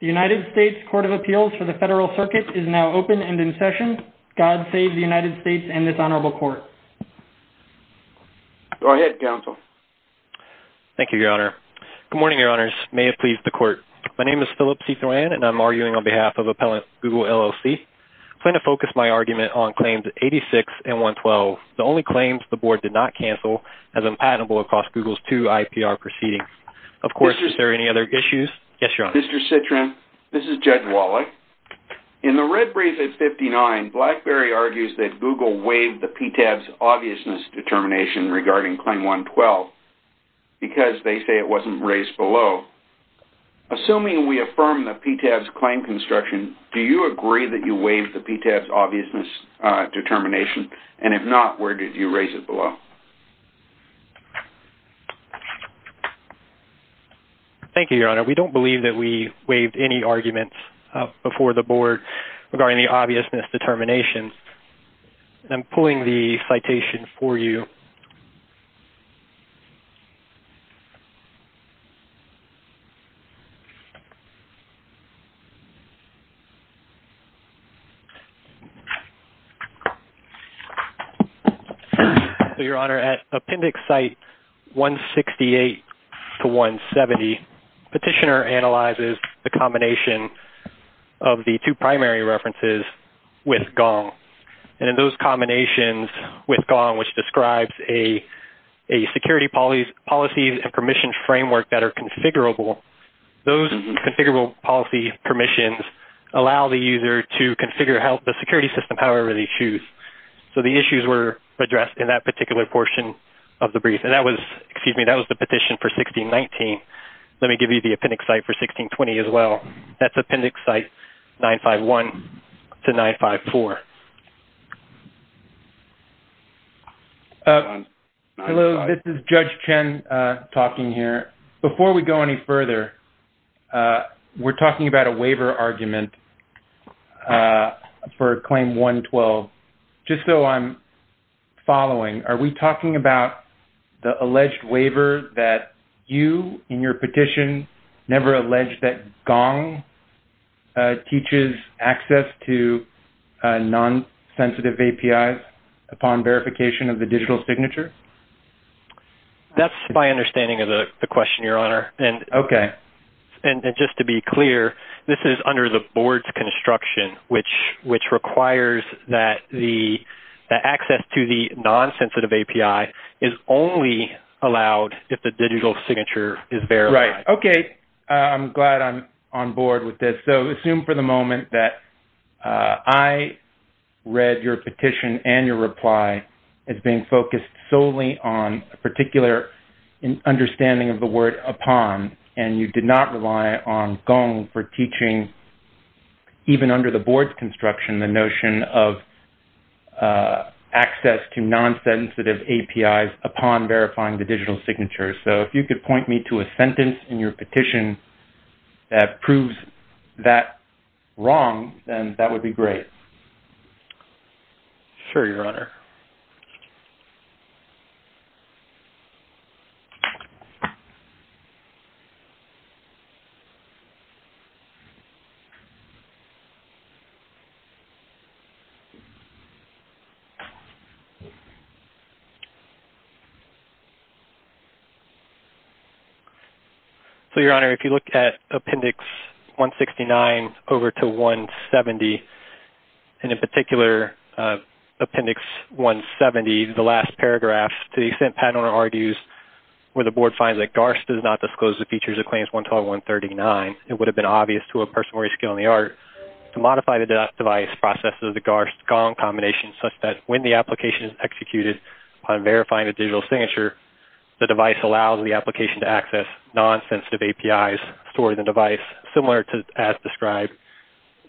The United States Court of Appeals for the Federal Circuit is now open and in session. God save the United States and this Honorable Court. Go ahead, Counsel. Thank you, Your Honor. Good morning, Your Honors. May it please the Court. My name is Philip C. Thoran and I'm arguing on behalf of Appellant Google LLC. I plan to focus my argument on Claims 86 and 112, the only claims the Board did not cancel as unpatentable across Google's two IPR proceedings. Of course, is there any other issues? Yes, Your Honor. Mr. Citrin, this is Jed Wallach. In the red brief at 59, Blackberry argues that Google waived the PTAB's obviousness determination regarding Claim 112 because they say it wasn't raised below. Assuming we affirm the PTAB's claim construction, do you agree that you waived the PTAB's obviousness determination? And if not, where did you raise it below? Thank you, Your Honor. We don't believe that we waived any arguments before the Board regarding the obviousness determination. I'm pulling the citation for you. Your Honor, at Appendix Site 168-170, Petitioner analyzes the combination of the two primary references with Gong. And in those combinations with Gong, which describes a security policy and permission framework that are configurable, those configurable policy permissions allow the user to configure the security system however they choose. So the issues were addressed in that particular portion of the brief. And that was the petition for 1619. Let me give you the Appendix Site for 1620 as well. That's Appendix Site 951 to 954. Hello, this is Judge Chen talking here. Before we go any further, we're talking about a waiver argument for Claim 112. Just so I'm following, are we talking about the alleged waiver that you in your petition never alleged that Gong teaches access to non-commercial services? Non-sensitive APIs upon verification of the digital signature? That's my understanding of the question, Your Honor. Okay. And just to be clear, this is under the Board's construction, which requires that the access to the non-sensitive API is only allowed if the digital signature is verified. Right. Okay. I'm glad I'm on board with this. So assume for the moment that I read your petition and your reply as being focused solely on a particular understanding of the word upon, and you did not rely on Gong for teaching, even under the Board's construction, the notion of access to non-sensitive APIs upon verifying the digital signature. So if you could point me to a sentence in your petition that proves that wrong, then that would be great. Sure, Your Honor. So, Your Honor, if you look at Appendix 169 over to 170, and in particular Appendix 170, the last paragraph, to the extent Patent Owner argues where the Board finds that GARS does not disclose the features of Claims 112-139, it would have been obvious to a person with a skill in the art to modify the device process of the GARS-Gong combination such that when the application is executed upon verifying the digital signature, the device allows the application to access non-sensitive APIs stored in the device, similar as described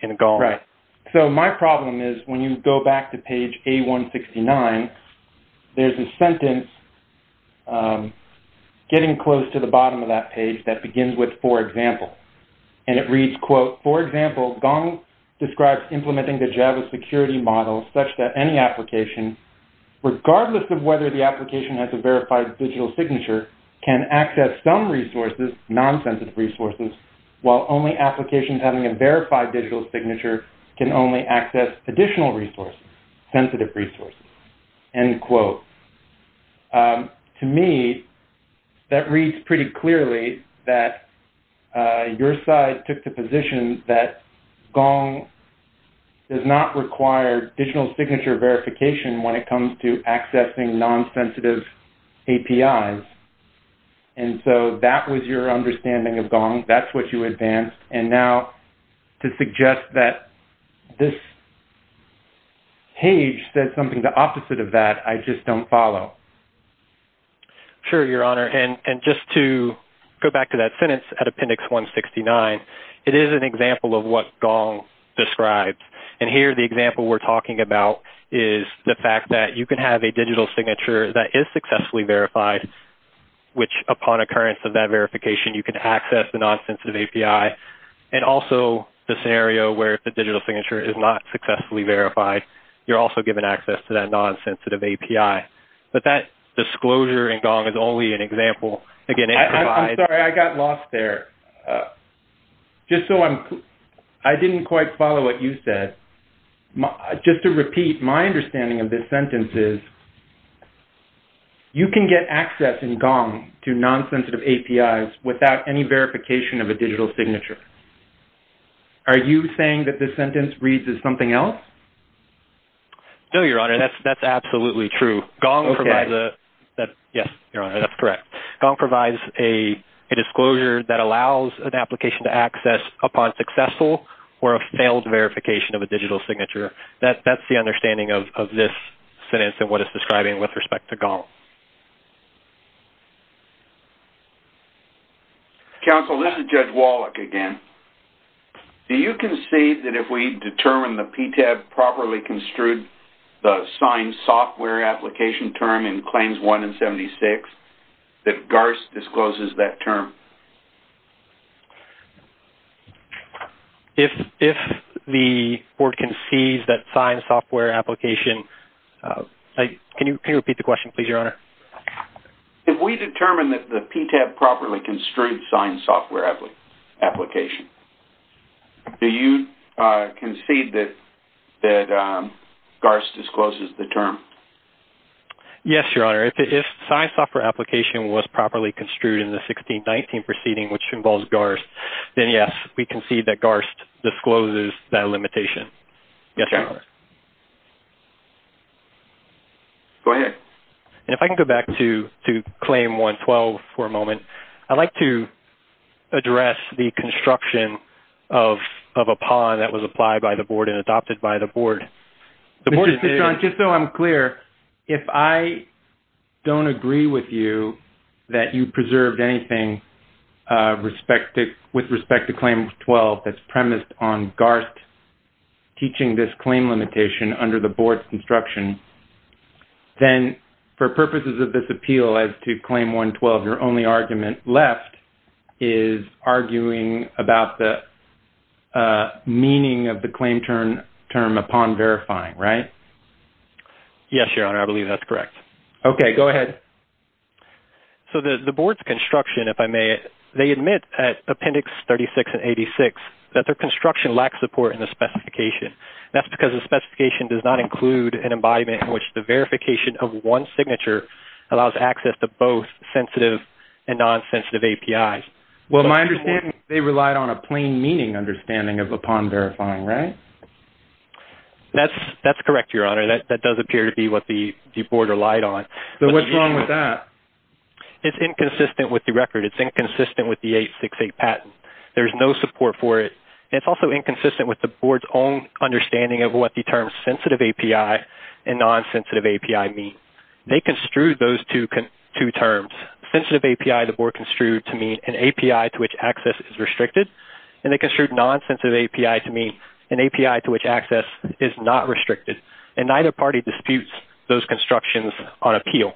in Gong. Right. So my problem is when you go back to page A-169, there's a sentence getting close to the bottom of that page that begins with, for example, and it reads, quote, for example, Gong describes implementing the Java security model such that any application, regardless of whether the application has a verified digital signature, can access some resources, non-sensitive resources, while only applications having a verified digital signature can only access additional resources, sensitive resources, end quote. To me, that reads pretty clearly that your side took the position that Gong does not require digital signature verification when it comes to accessing non-sensitive APIs, and so that was your understanding of Gong. That's what you advanced, and now to suggest that this page said something the opposite of that, I just don't follow. Sure, Your Honor, and just to go back to that sentence at appendix 169, it is an example of what Gong describes, and here the example we're talking about is the fact that you can have a digital signature that is successfully verified, which upon occurrence of that verification, you can access the non-sensitive API, and also the scenario where the digital signature is not successfully verified, you're also given access to that non-sensitive API, but that disclosure in Gong is only an example. Again, it provides... I'm sorry, I got lost there. Just so I'm... I didn't quite follow what you said. Just to repeat, my understanding of this sentence is you can get access in Gong to non-sensitive APIs without any verification of a digital signature. Are you saying that this sentence reads as something else? No, Your Honor, that's absolutely true. Gong provides a... Yes, Your Honor, that's correct. That's the understanding of this sentence and what it's describing with respect to Gong. Counsel, this is Judge Wallach again. Do you concede that if we determine the PTAB properly construed the signed software application term in Claims 1 and 76, that GARS discloses that term? If the board concedes that signed software application... Can you repeat the question, please, Your Honor? If we determine that the PTAB properly construed signed software application, do you concede that GARS discloses the term? Yes, Your Honor. If signed software application was properly construed in the 1619 proceeding, which involves GARS, then yes, we concede that GARS discloses that limitation. Yes, Your Honor. Go ahead. And if I can go back to Claim 112 for a moment. I'd like to address the construction of a pawn that was applied by the board and adopted by the board. Just so I'm clear, if I don't agree with you that you preserved anything with respect to Claim 112 that's premised on GARS teaching this claim limitation under the board's construction, then for purposes of this appeal as to Claim 112, your only argument left is arguing about the meaning of the claim term upon verifying, right? Yes, Your Honor. I believe that's correct. Okay. Go ahead. So the board's construction, if I may, they admit at Appendix 36 and 86 that their construction lacks support in the specification. That's because the specification does not include an embodiment in which the verification of one signature allows access to both sensitive and non-sensitive APIs. Well, my understanding is they relied on a plain meaning understanding upon verifying, right? That's correct, Your Honor. That does appear to be what the board relied on. So what's wrong with that? It's inconsistent with the record. It's inconsistent with the 868 patent. There's no support for it. It's also inconsistent with the board's own understanding of what the terms sensitive API and non-sensitive API mean. They construed those two terms. Sensitive API, the board construed to mean an API to which access is restricted. And they construed non-sensitive API to mean an API to which access is not restricted. And neither party disputes those constructions on appeal.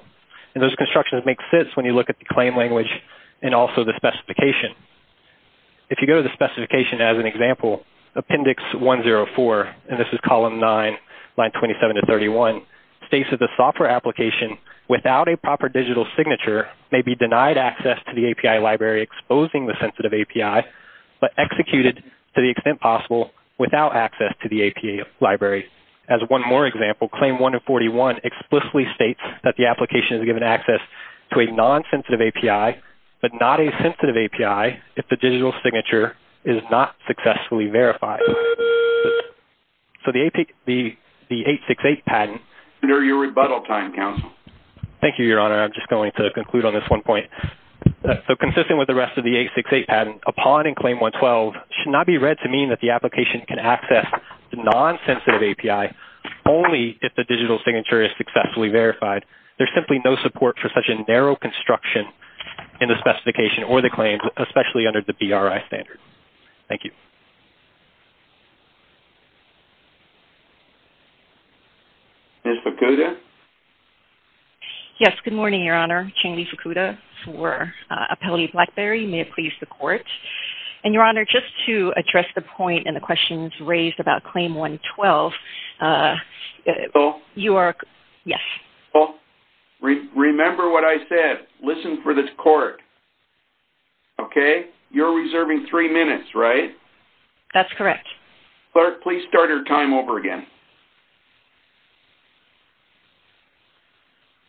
And those constructions make sense when you look at the claim language and also the specification. If you go to the specification as an example, Appendix 104, and this is Column 9, Line 27 to 31, states that the software application without a proper digital signature may be denied access to the API library exposing the sensitive API, but executed to the extent possible without access to the API library. As one more example, Claim 141 explicitly states that the application is given access to a non-sensitive API, but not a sensitive API if the digital signature is not successfully verified. So the 868 patent... Under your rebuttal time, counsel. Thank you, Your Honor. I'm just going to conclude on this one point. So consistent with the rest of the 868 patent, a pawn in Claim 112 should not be read to mean that the application can access the non-sensitive API only if the digital signature is successfully verified. There's simply no support for such a narrow construction in the specification or the claims, especially under the BRI standard. Thank you. Ms. Fukuda? Yes, good morning, Your Honor. Changli Fukuda for Appellate Blackberry. May it please the Court. And, Your Honor, just to address the point and the questions raised about Claim 112, you are... Counsel? Yes. Counsel, remember what I said. Listen for the Court. Okay? You're reserving three minutes, right? That's correct. Clerk, please start your time over again.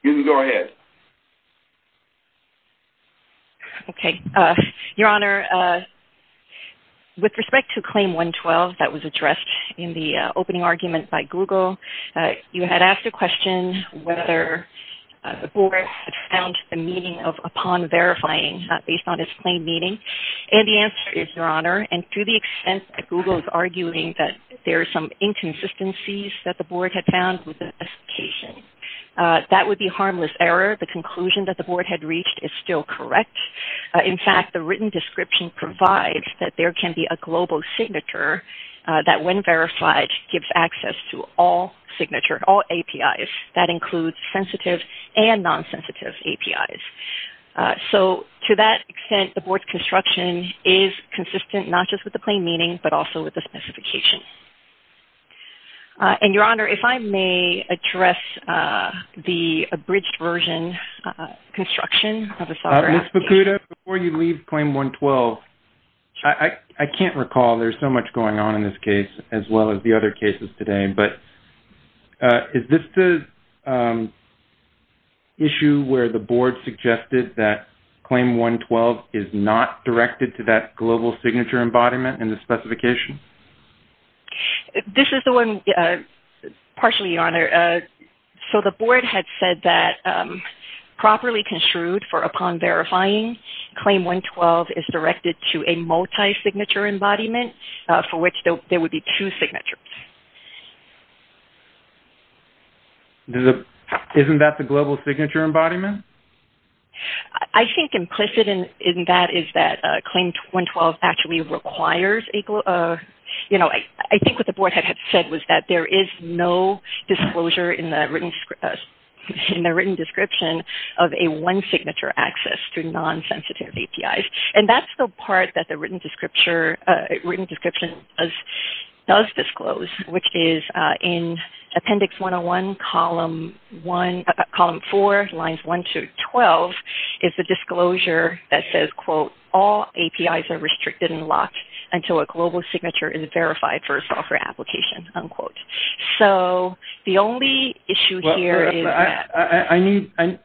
You can go ahead. Okay. Your Honor, with respect to Claim 112 that was addressed in the opening argument by Google, you had asked a question whether the Court had found the meaning of a pawn verifying based on its plain meaning. And the answer is, Your Honor, and to the extent that Google is arguing that there are some inconsistencies that the Board had found with the specification, that would be harmless error. The conclusion that the Board had reached is still correct. In fact, the written description provides that there can be a global signature that, when verified, gives access to all signatures, all APIs. That includes sensitive and non-sensitive APIs. So, to that extent, the Board's construction is consistent, not just with the plain meaning, but also with the specification. And, Your Honor, if I may address the abridged version construction of the software application... Ms. Bakuda, before you leave Claim 112, I can't recall. There's so much going on in this case, as well as the other cases today. Is this the issue where the Board suggested that Claim 112 is not directed to that global signature embodiment in the specification? This is the one, partially, Your Honor. So, the Board had said that, properly construed for a pawn verifying, Claim 112 is directed to a multi-signature embodiment, for which there would be two signatures. Isn't that the global signature embodiment? I think implicit in that is that Claim 112 actually requires... I think what the Board had said was that there is no disclosure in the written description of a one-signature access to non-sensitive APIs. And that's the part that the written description does disclose, which is in Appendix 101, Column 4, Lines 1 to 12, is the disclosure that says, quote, All APIs are restricted and locked until a global signature is verified for a software application, unquote. So, the only issue here is that...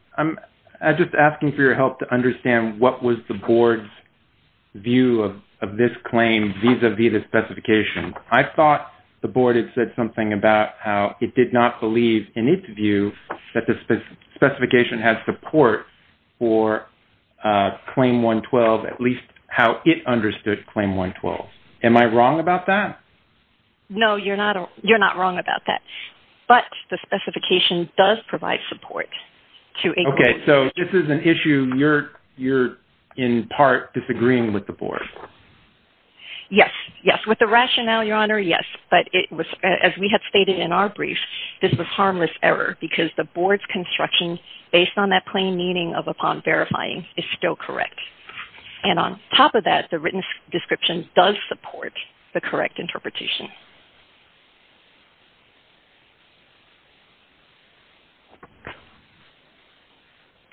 I'm just asking for your help to understand what was the Board's view of this claim, vis-à-vis the specification. I thought the Board had said something about how it did not believe, in its view, that the specification has support for Claim 112, at least how it understood Claim 112. Am I wrong about that? No, you're not wrong about that. But the specification does provide support to... Okay, so this is an issue you're, in part, disagreeing with the Board. Yes, yes. With the rationale, Your Honor, yes. But it was, as we had stated in our brief, this was harmless error, because the Board's construction, based on that plain meaning of upon verifying, is still correct. And on top of that, the written description does support the correct interpretation.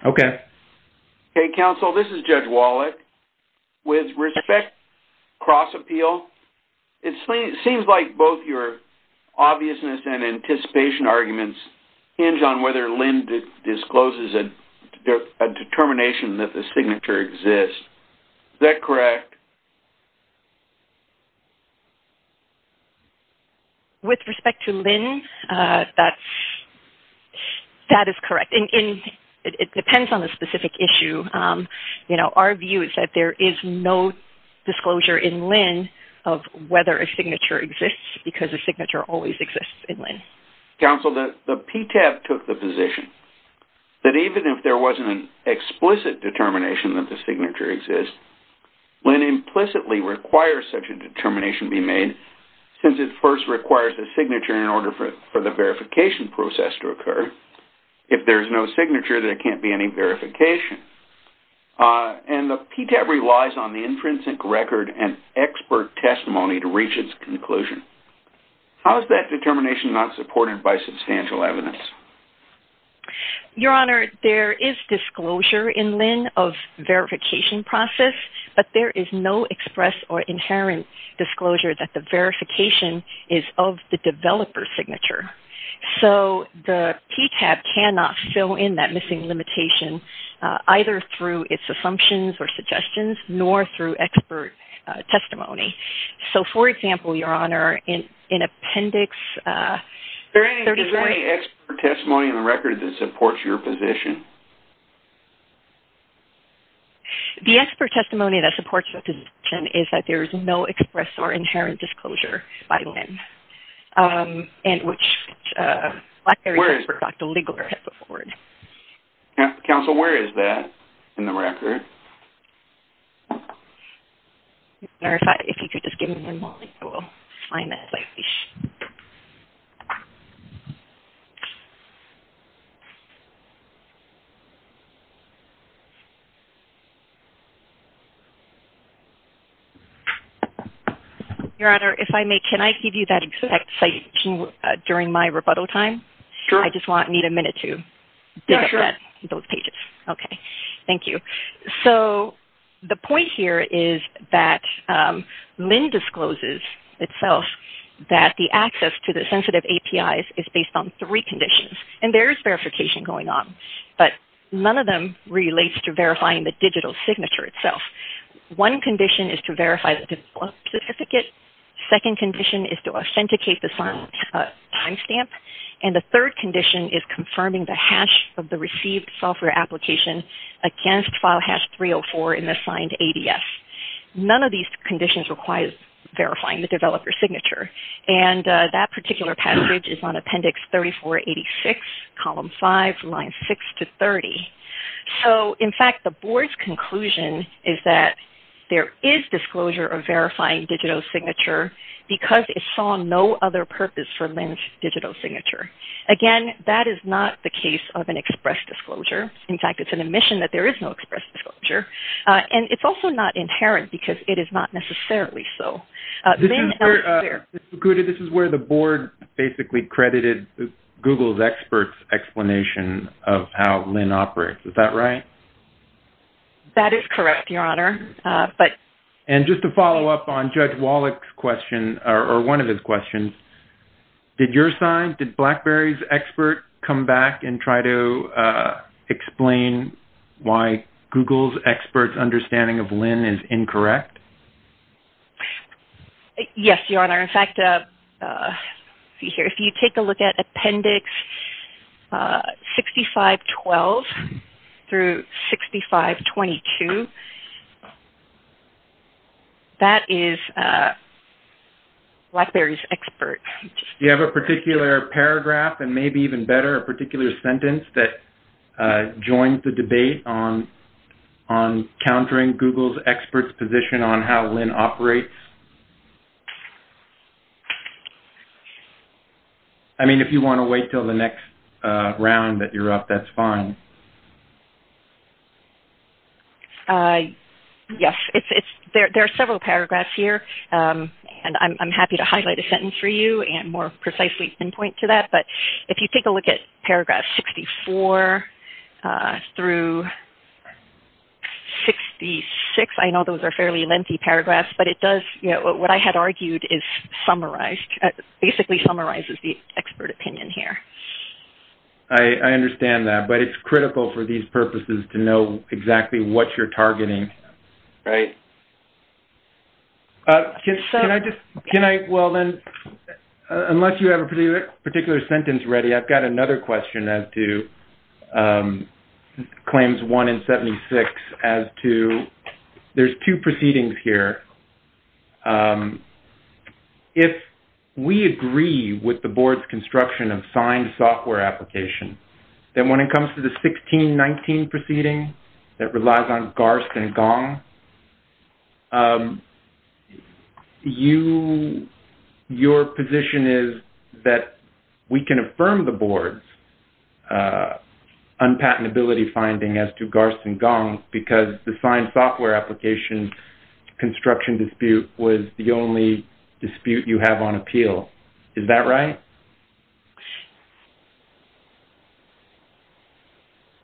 Okay. Okay, Counsel, this is Judge Wallach. With respect to cross-appeal, it seems like both your obviousness and anticipation arguments hinge on whether Lynn discloses a determination that the signature exists. Is that correct? With respect to Lynn, that is correct. It depends on the specific issue. Our view is that there is no disclosure in Lynn of whether a signature exists, because a signature always exists in Lynn. Counsel, the PTAB took the position that even if there wasn't an explicit determination that the signature exists, Lynn implicitly requires such a determination be made, since it first requires a signature in order for the verification process to occur. If there's no signature, there can't be any verification. And the PTAB relies on the intrinsic record and expert testimony to reach its conclusion. How is that determination not supported by substantial evidence? Your Honor, there is disclosure in Lynn of verification process, but there is no express or inherent disclosure that the verification is of the developer's signature. So, the PTAB cannot fill in that missing limitation, either through its assumptions or suggestions, nor through expert testimony. So, for example, Your Honor, in Appendix 34- Is there any expert testimony in the record that supports your position? The expert testimony that supports the position is that there is no express or inherent disclosure by Lynn, and which Blackberry expert, Dr. Ligler, has put forward. Counsel, where is that in the record? Your Honor, if you could just give me one moment, I will find that. Your Honor, if I may, can I give you that exact site during my rebuttal time? Sure. I just need a minute to dig up those pages. Okay, thank you. So, the point here is that Lynn discloses itself that the access to the sensitive APIs is based on three conditions, and there is verification going on, but none of them relates to verifying the digital signature itself. One condition is to verify the certificate. Second condition is to authenticate the timestamp. And the third condition is confirming the hash of the received software application against file hash 304 in the signed ADS. None of these conditions require verifying the developer's signature, and that particular passage is on Appendix 34-86, Column 5, Lines 6-30. So, in fact, the Board's conclusion is that there is disclosure of verifying digital signature because it saw no other purpose for Lynn's digital signature. Again, that is not the case of an express disclosure. In fact, it's an admission that there is no express disclosure, and it's also not inherent because it is not necessarily so. This is where the Board basically credited Google's experts' explanation of how Lynn operates. Is that right? That is correct, Your Honor. And just to follow up on Judge Wallach's question, or one of his questions, did your side, did BlackBerry's expert come back and try to explain why Google's experts' understanding of Lynn is incorrect? Yes, Your Honor. In fact, if you take a look at Appendix 65-12 through 65-22, that is BlackBerry's expert. Do you have a particular paragraph, and maybe even better, a particular sentence that joins the debate on countering Google's experts' position on how Lynn operates? I mean, if you want to wait until the next round that you're up, that's fine. Yes, there are several paragraphs here, and I'm happy to highlight a sentence for you and more precisely pinpoint to that, but if you take a look at paragraphs 64 through 66, I know those are fairly lengthy paragraphs, but it does, what I had argued is summarized, basically summarizes the expert opinion here. I understand that, but it's critical for these purposes to know exactly what you're targeting. Right. Can I just, can I, well then, unless you have a particular sentence ready, I've got another question as to Claims 1 and 76 as to, there's two proceedings here. If we agree with the Board's construction of signed software applications, then when it comes to the 1619 proceeding that relies on Garst and Gong, you, your position is that we can affirm the Board's unpatentability finding as to Garst and Gong because the signed software application construction dispute was the only dispute you have on appeal. Is that right?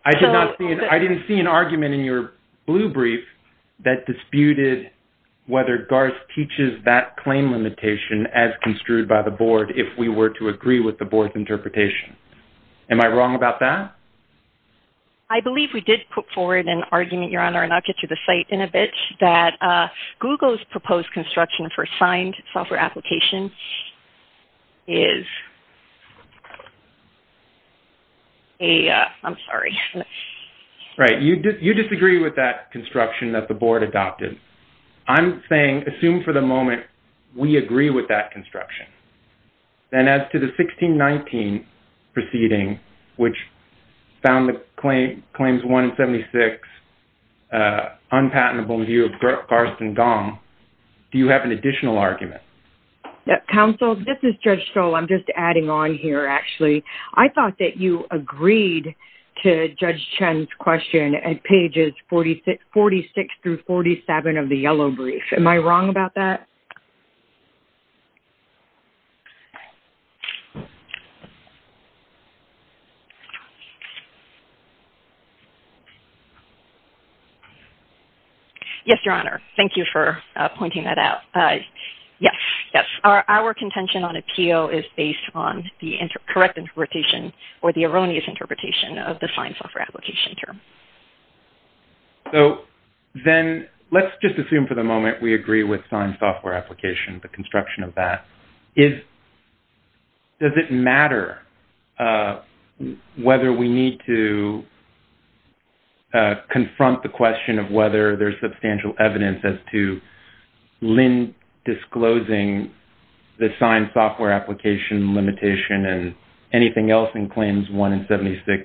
I did not see, I didn't see an argument in your blue brief that disputed whether Garst teaches that claim limitation as construed by the Board if we were to agree with the Board's interpretation. Am I wrong about that? I believe we did put forward an argument, Your Honor, and I'll get to the site in a bit, that Google's proposed construction for signed software applications is a, I'm sorry. Right. You disagree with that construction that the Board adopted. I'm saying assume for the moment we agree with that construction. Then as to the 1619 proceeding, which found the claims 1 and 76 unpatentable in view of Garst and Gong, do you have an additional argument? Counsel, this is Judge Stoll. I'm just adding on here, actually. I thought that you agreed to Judge Chen's question at pages 46 through 47 of the yellow brief. Am I wrong about that? Okay. Yes, Your Honor. Thank you for pointing that out. Yes, yes. Our contention on appeal is based on the correct interpretation or the erroneous interpretation of the signed software application term. So then let's just assume for the moment we agree with signed software application, the construction of that. Does it matter whether we need to confront the question of whether there's substantial evidence as to Lynn disclosing the signed software application limitation and anything else in claims 1 and 76,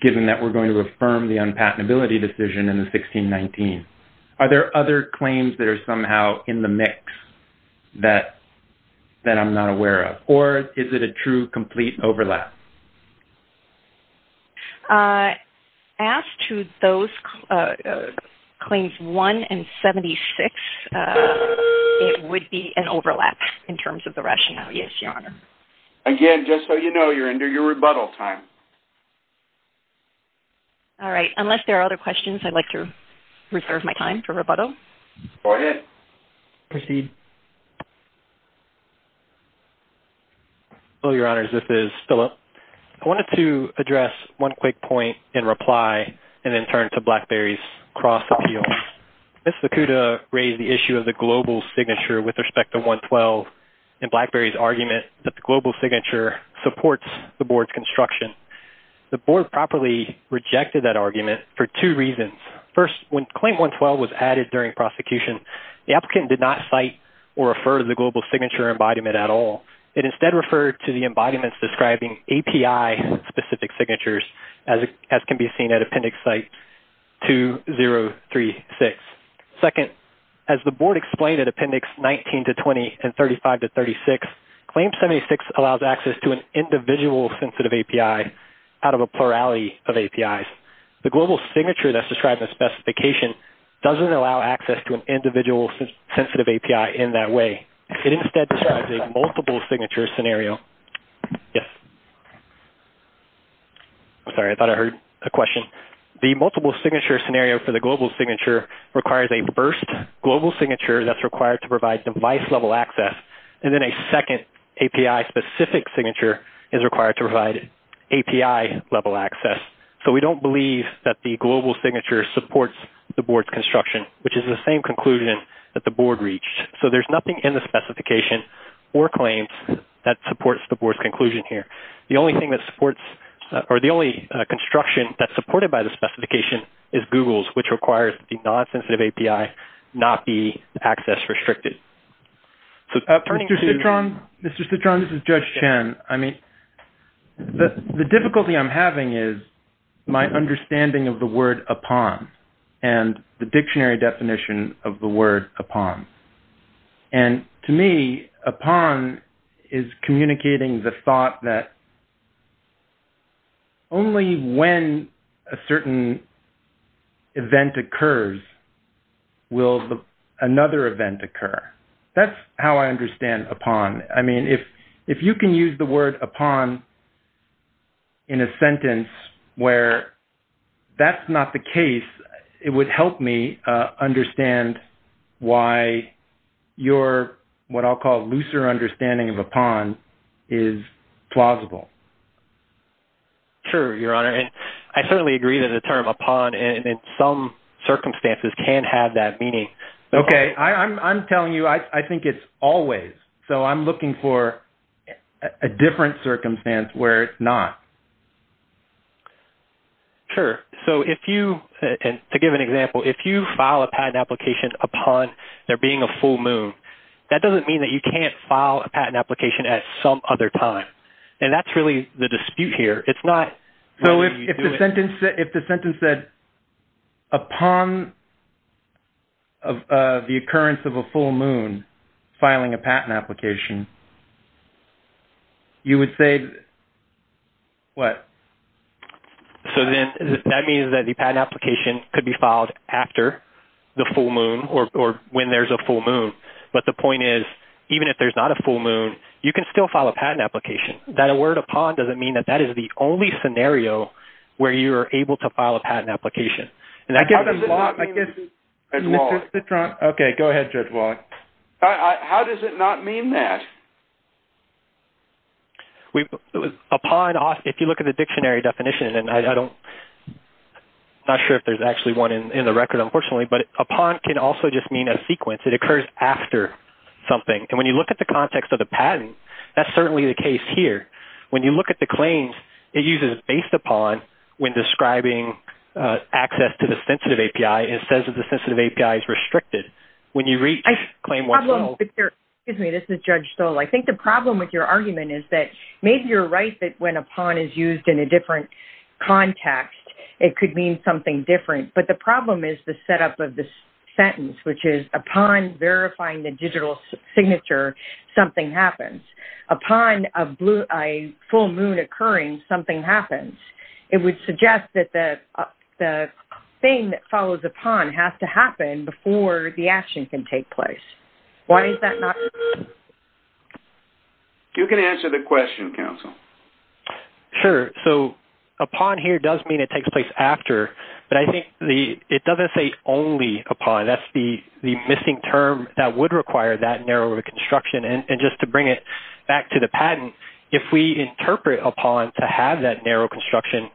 given that we're going to affirm the unpatentability decision in the 1619? Are there other claims that are somehow in the mix that I'm not aware of? Or is it a true, complete overlap? As to those claims 1 and 76, it would be an overlap in terms of the rationale, yes, Your Honor. Again, just so you know, you're under your rebuttal time. All right. Unless there are other questions, I'd like to reserve my time for rebuttal. Go ahead. Proceed. Hello, Your Honors. This is Phillip. I wanted to address one quick point in reply and then turn to BlackBerry's cross-appeal. Ms. Zakuda raised the issue of the global signature with respect to 112 and BlackBerry's argument that the global signature supports the board's construction. The board properly rejected that argument for two reasons. First, when claim 112 was added during prosecution, the applicant did not cite or refer to the global signature embodiment at all. It instead referred to the embodiments describing API-specific signatures, as can be seen at Appendix Site 2036. Second, as the board explained at Appendix 19-20 and 35-36, claim 76 allows access to an individual sensitive API out of a plurality of APIs. The global signature that's described in the specification doesn't allow access to an individual sensitive API in that way. It instead describes a multiple signature scenario. Yes. I'm sorry. I thought I heard a question. The multiple signature scenario for the global signature requires a first global signature that's required to provide device-level access, and then a second API-specific signature is required to provide API-level access. We don't believe that the global signature supports the board's construction, which is the same conclusion that the board reached. There's nothing in the specification or claims that supports the board's conclusion here. The only construction that's supported by the specification is Google's, which requires the non-sensitive API not be access-restricted. Mr. Citron, this is Judge Chen. The difficulty I'm having is my understanding of the word upon and the dictionary definition of the word upon. To me, upon is communicating the thought that only when a certain event occurs will another event occur. That's how I understand upon. If you can use the word upon in a sentence where that's not the case, it would help me understand why your looser understanding of upon is plausible. Sure, Your Honor. I certainly agree that the term upon in some circumstances can have that meaning. I'm telling you, I think it's always. I'm looking for a different circumstance where it's not. Sure. To give an example, if you file a patent application upon there being a full moon, that doesn't mean that you can't file a patent application at some other time. That's really the dispute here. If the sentence said upon the occurrence of a full moon filing a patent application, you would say what? That means that the patent application could be filed after the full moon, or when there's a full moon. But the point is, even if there's not a full moon, you can still file a patent application. That word upon doesn't mean that that is the only scenario where you are able to file a patent application. How does it not mean that? Go ahead, Judge Wallach. How does it not mean that? Upon, if you look at the dictionary definition, and I'm not sure if there's actually one in the record, unfortunately, but upon can also just mean a sequence. It occurs after something. And when you look at the context of the patent, that's certainly the case here. When you look at the claims, it uses based upon when describing access to the sensitive API, it says that the sensitive API is restricted. When you reach claim one... Excuse me, this is Judge Stoll. I think the problem with your argument is that maybe you're right that when upon is used in a different context, it could mean something different. But the problem is the setup of the sentence, which is upon verifying the digital signature, something happens. Upon a full moon occurring, something happens. It would suggest that the thing that follows upon has to happen before the action can take place. Why is that not... You can answer the question, counsel. Sure. So, upon here does mean it takes place after, but I think it doesn't say only upon. That's the missing term that would require that narrow reconstruction. And just to bring it back to the patent, if we interpret upon to have that narrow construction,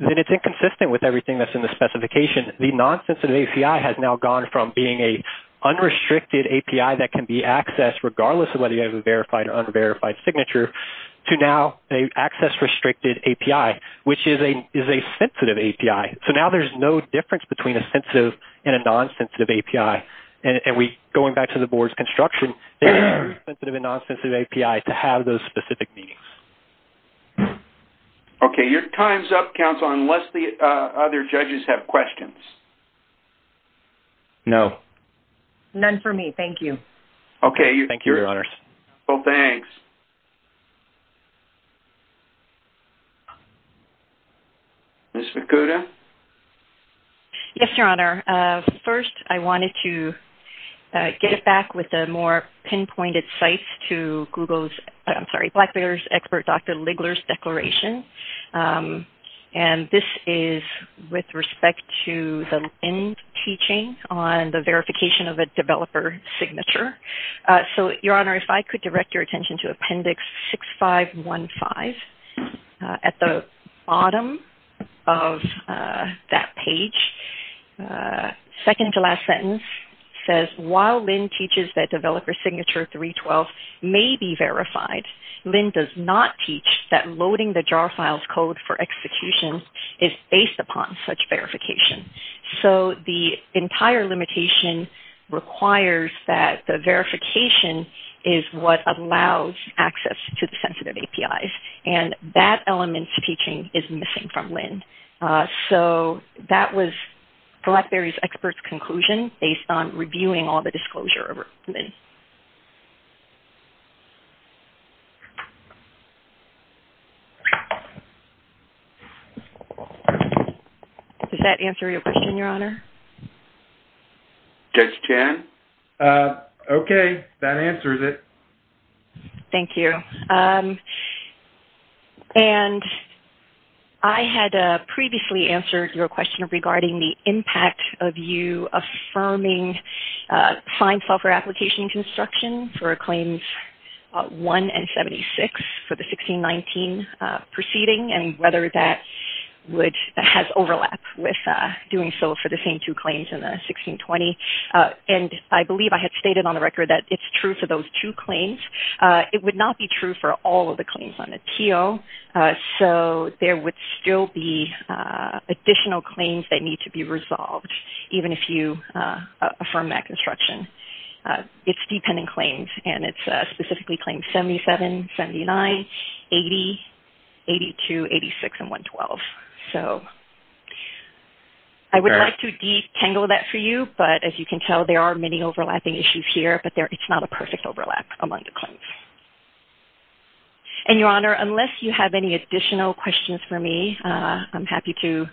then it's inconsistent with everything that's in the specification. The non-sensitive API has now gone from being a unrestricted API that can be accessed regardless of whether you have a verified or unverified signature, to now an access-restricted API, which is a sensitive API. So now there's no difference between a sensitive and a non-sensitive API. And going back to the board's construction, there is a sensitive and non-sensitive API to have those specific meanings. Okay. Your time's up, counsel, unless the other judges have questions. No. None for me. Okay. Well, thanks. Ms. Makuda? Yes, Your Honor. First, I wanted to get it back with the more pinpointed sites to Blackbeard's expert, Dr. Ligler's declaration. And this is with respect to the LEND teaching on the verification of a developer's signature. So, Your Honor, if I could direct your attention to Appendix 6515. At the bottom of that page, second-to-last sentence says, while LEND teaches that developer signature 312 may be verified, LEND does not teach that loading the JAR files code for execution is based upon such verification. So, the entire limitation requires that the verification is what allows access to the sensitive APIs. And that element's teaching is missing from LEND. So, that was Blackberry's expert's conclusion based on reviewing all the disclosure of LEND. Does that answer your question, Your Honor? Yes, it can. Okay. That answers it. Thank you. And I had previously answered your question regarding the impact of you affirming signed software application conditions for reconstruction for Claims 1 and 76 for the 1619 proceeding and whether that has overlap with doing so for the same two claims in the 1620. And I believe I had stated on the record that it's true for those two claims. It would not be true for all of the claims on the TO. So, there would still be additional claims that need to be resolved, even if you affirm that construction. So, there are two dependent claims and it's specifically claims 77, 79, 80, 82, 86, and 112. So, I would like to detangle that for you. But as you can tell, there are many overlapping issues here. But it's not a perfect overlap among the claims. And Your Honor, unless you have any additional questions for me, I'm happy to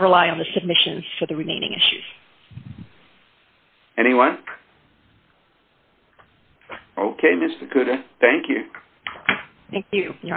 rely on the submissions for the remaining issues. Anyone? Okay, Ms. Fukuda. Thank you. Thank you, Your Honor.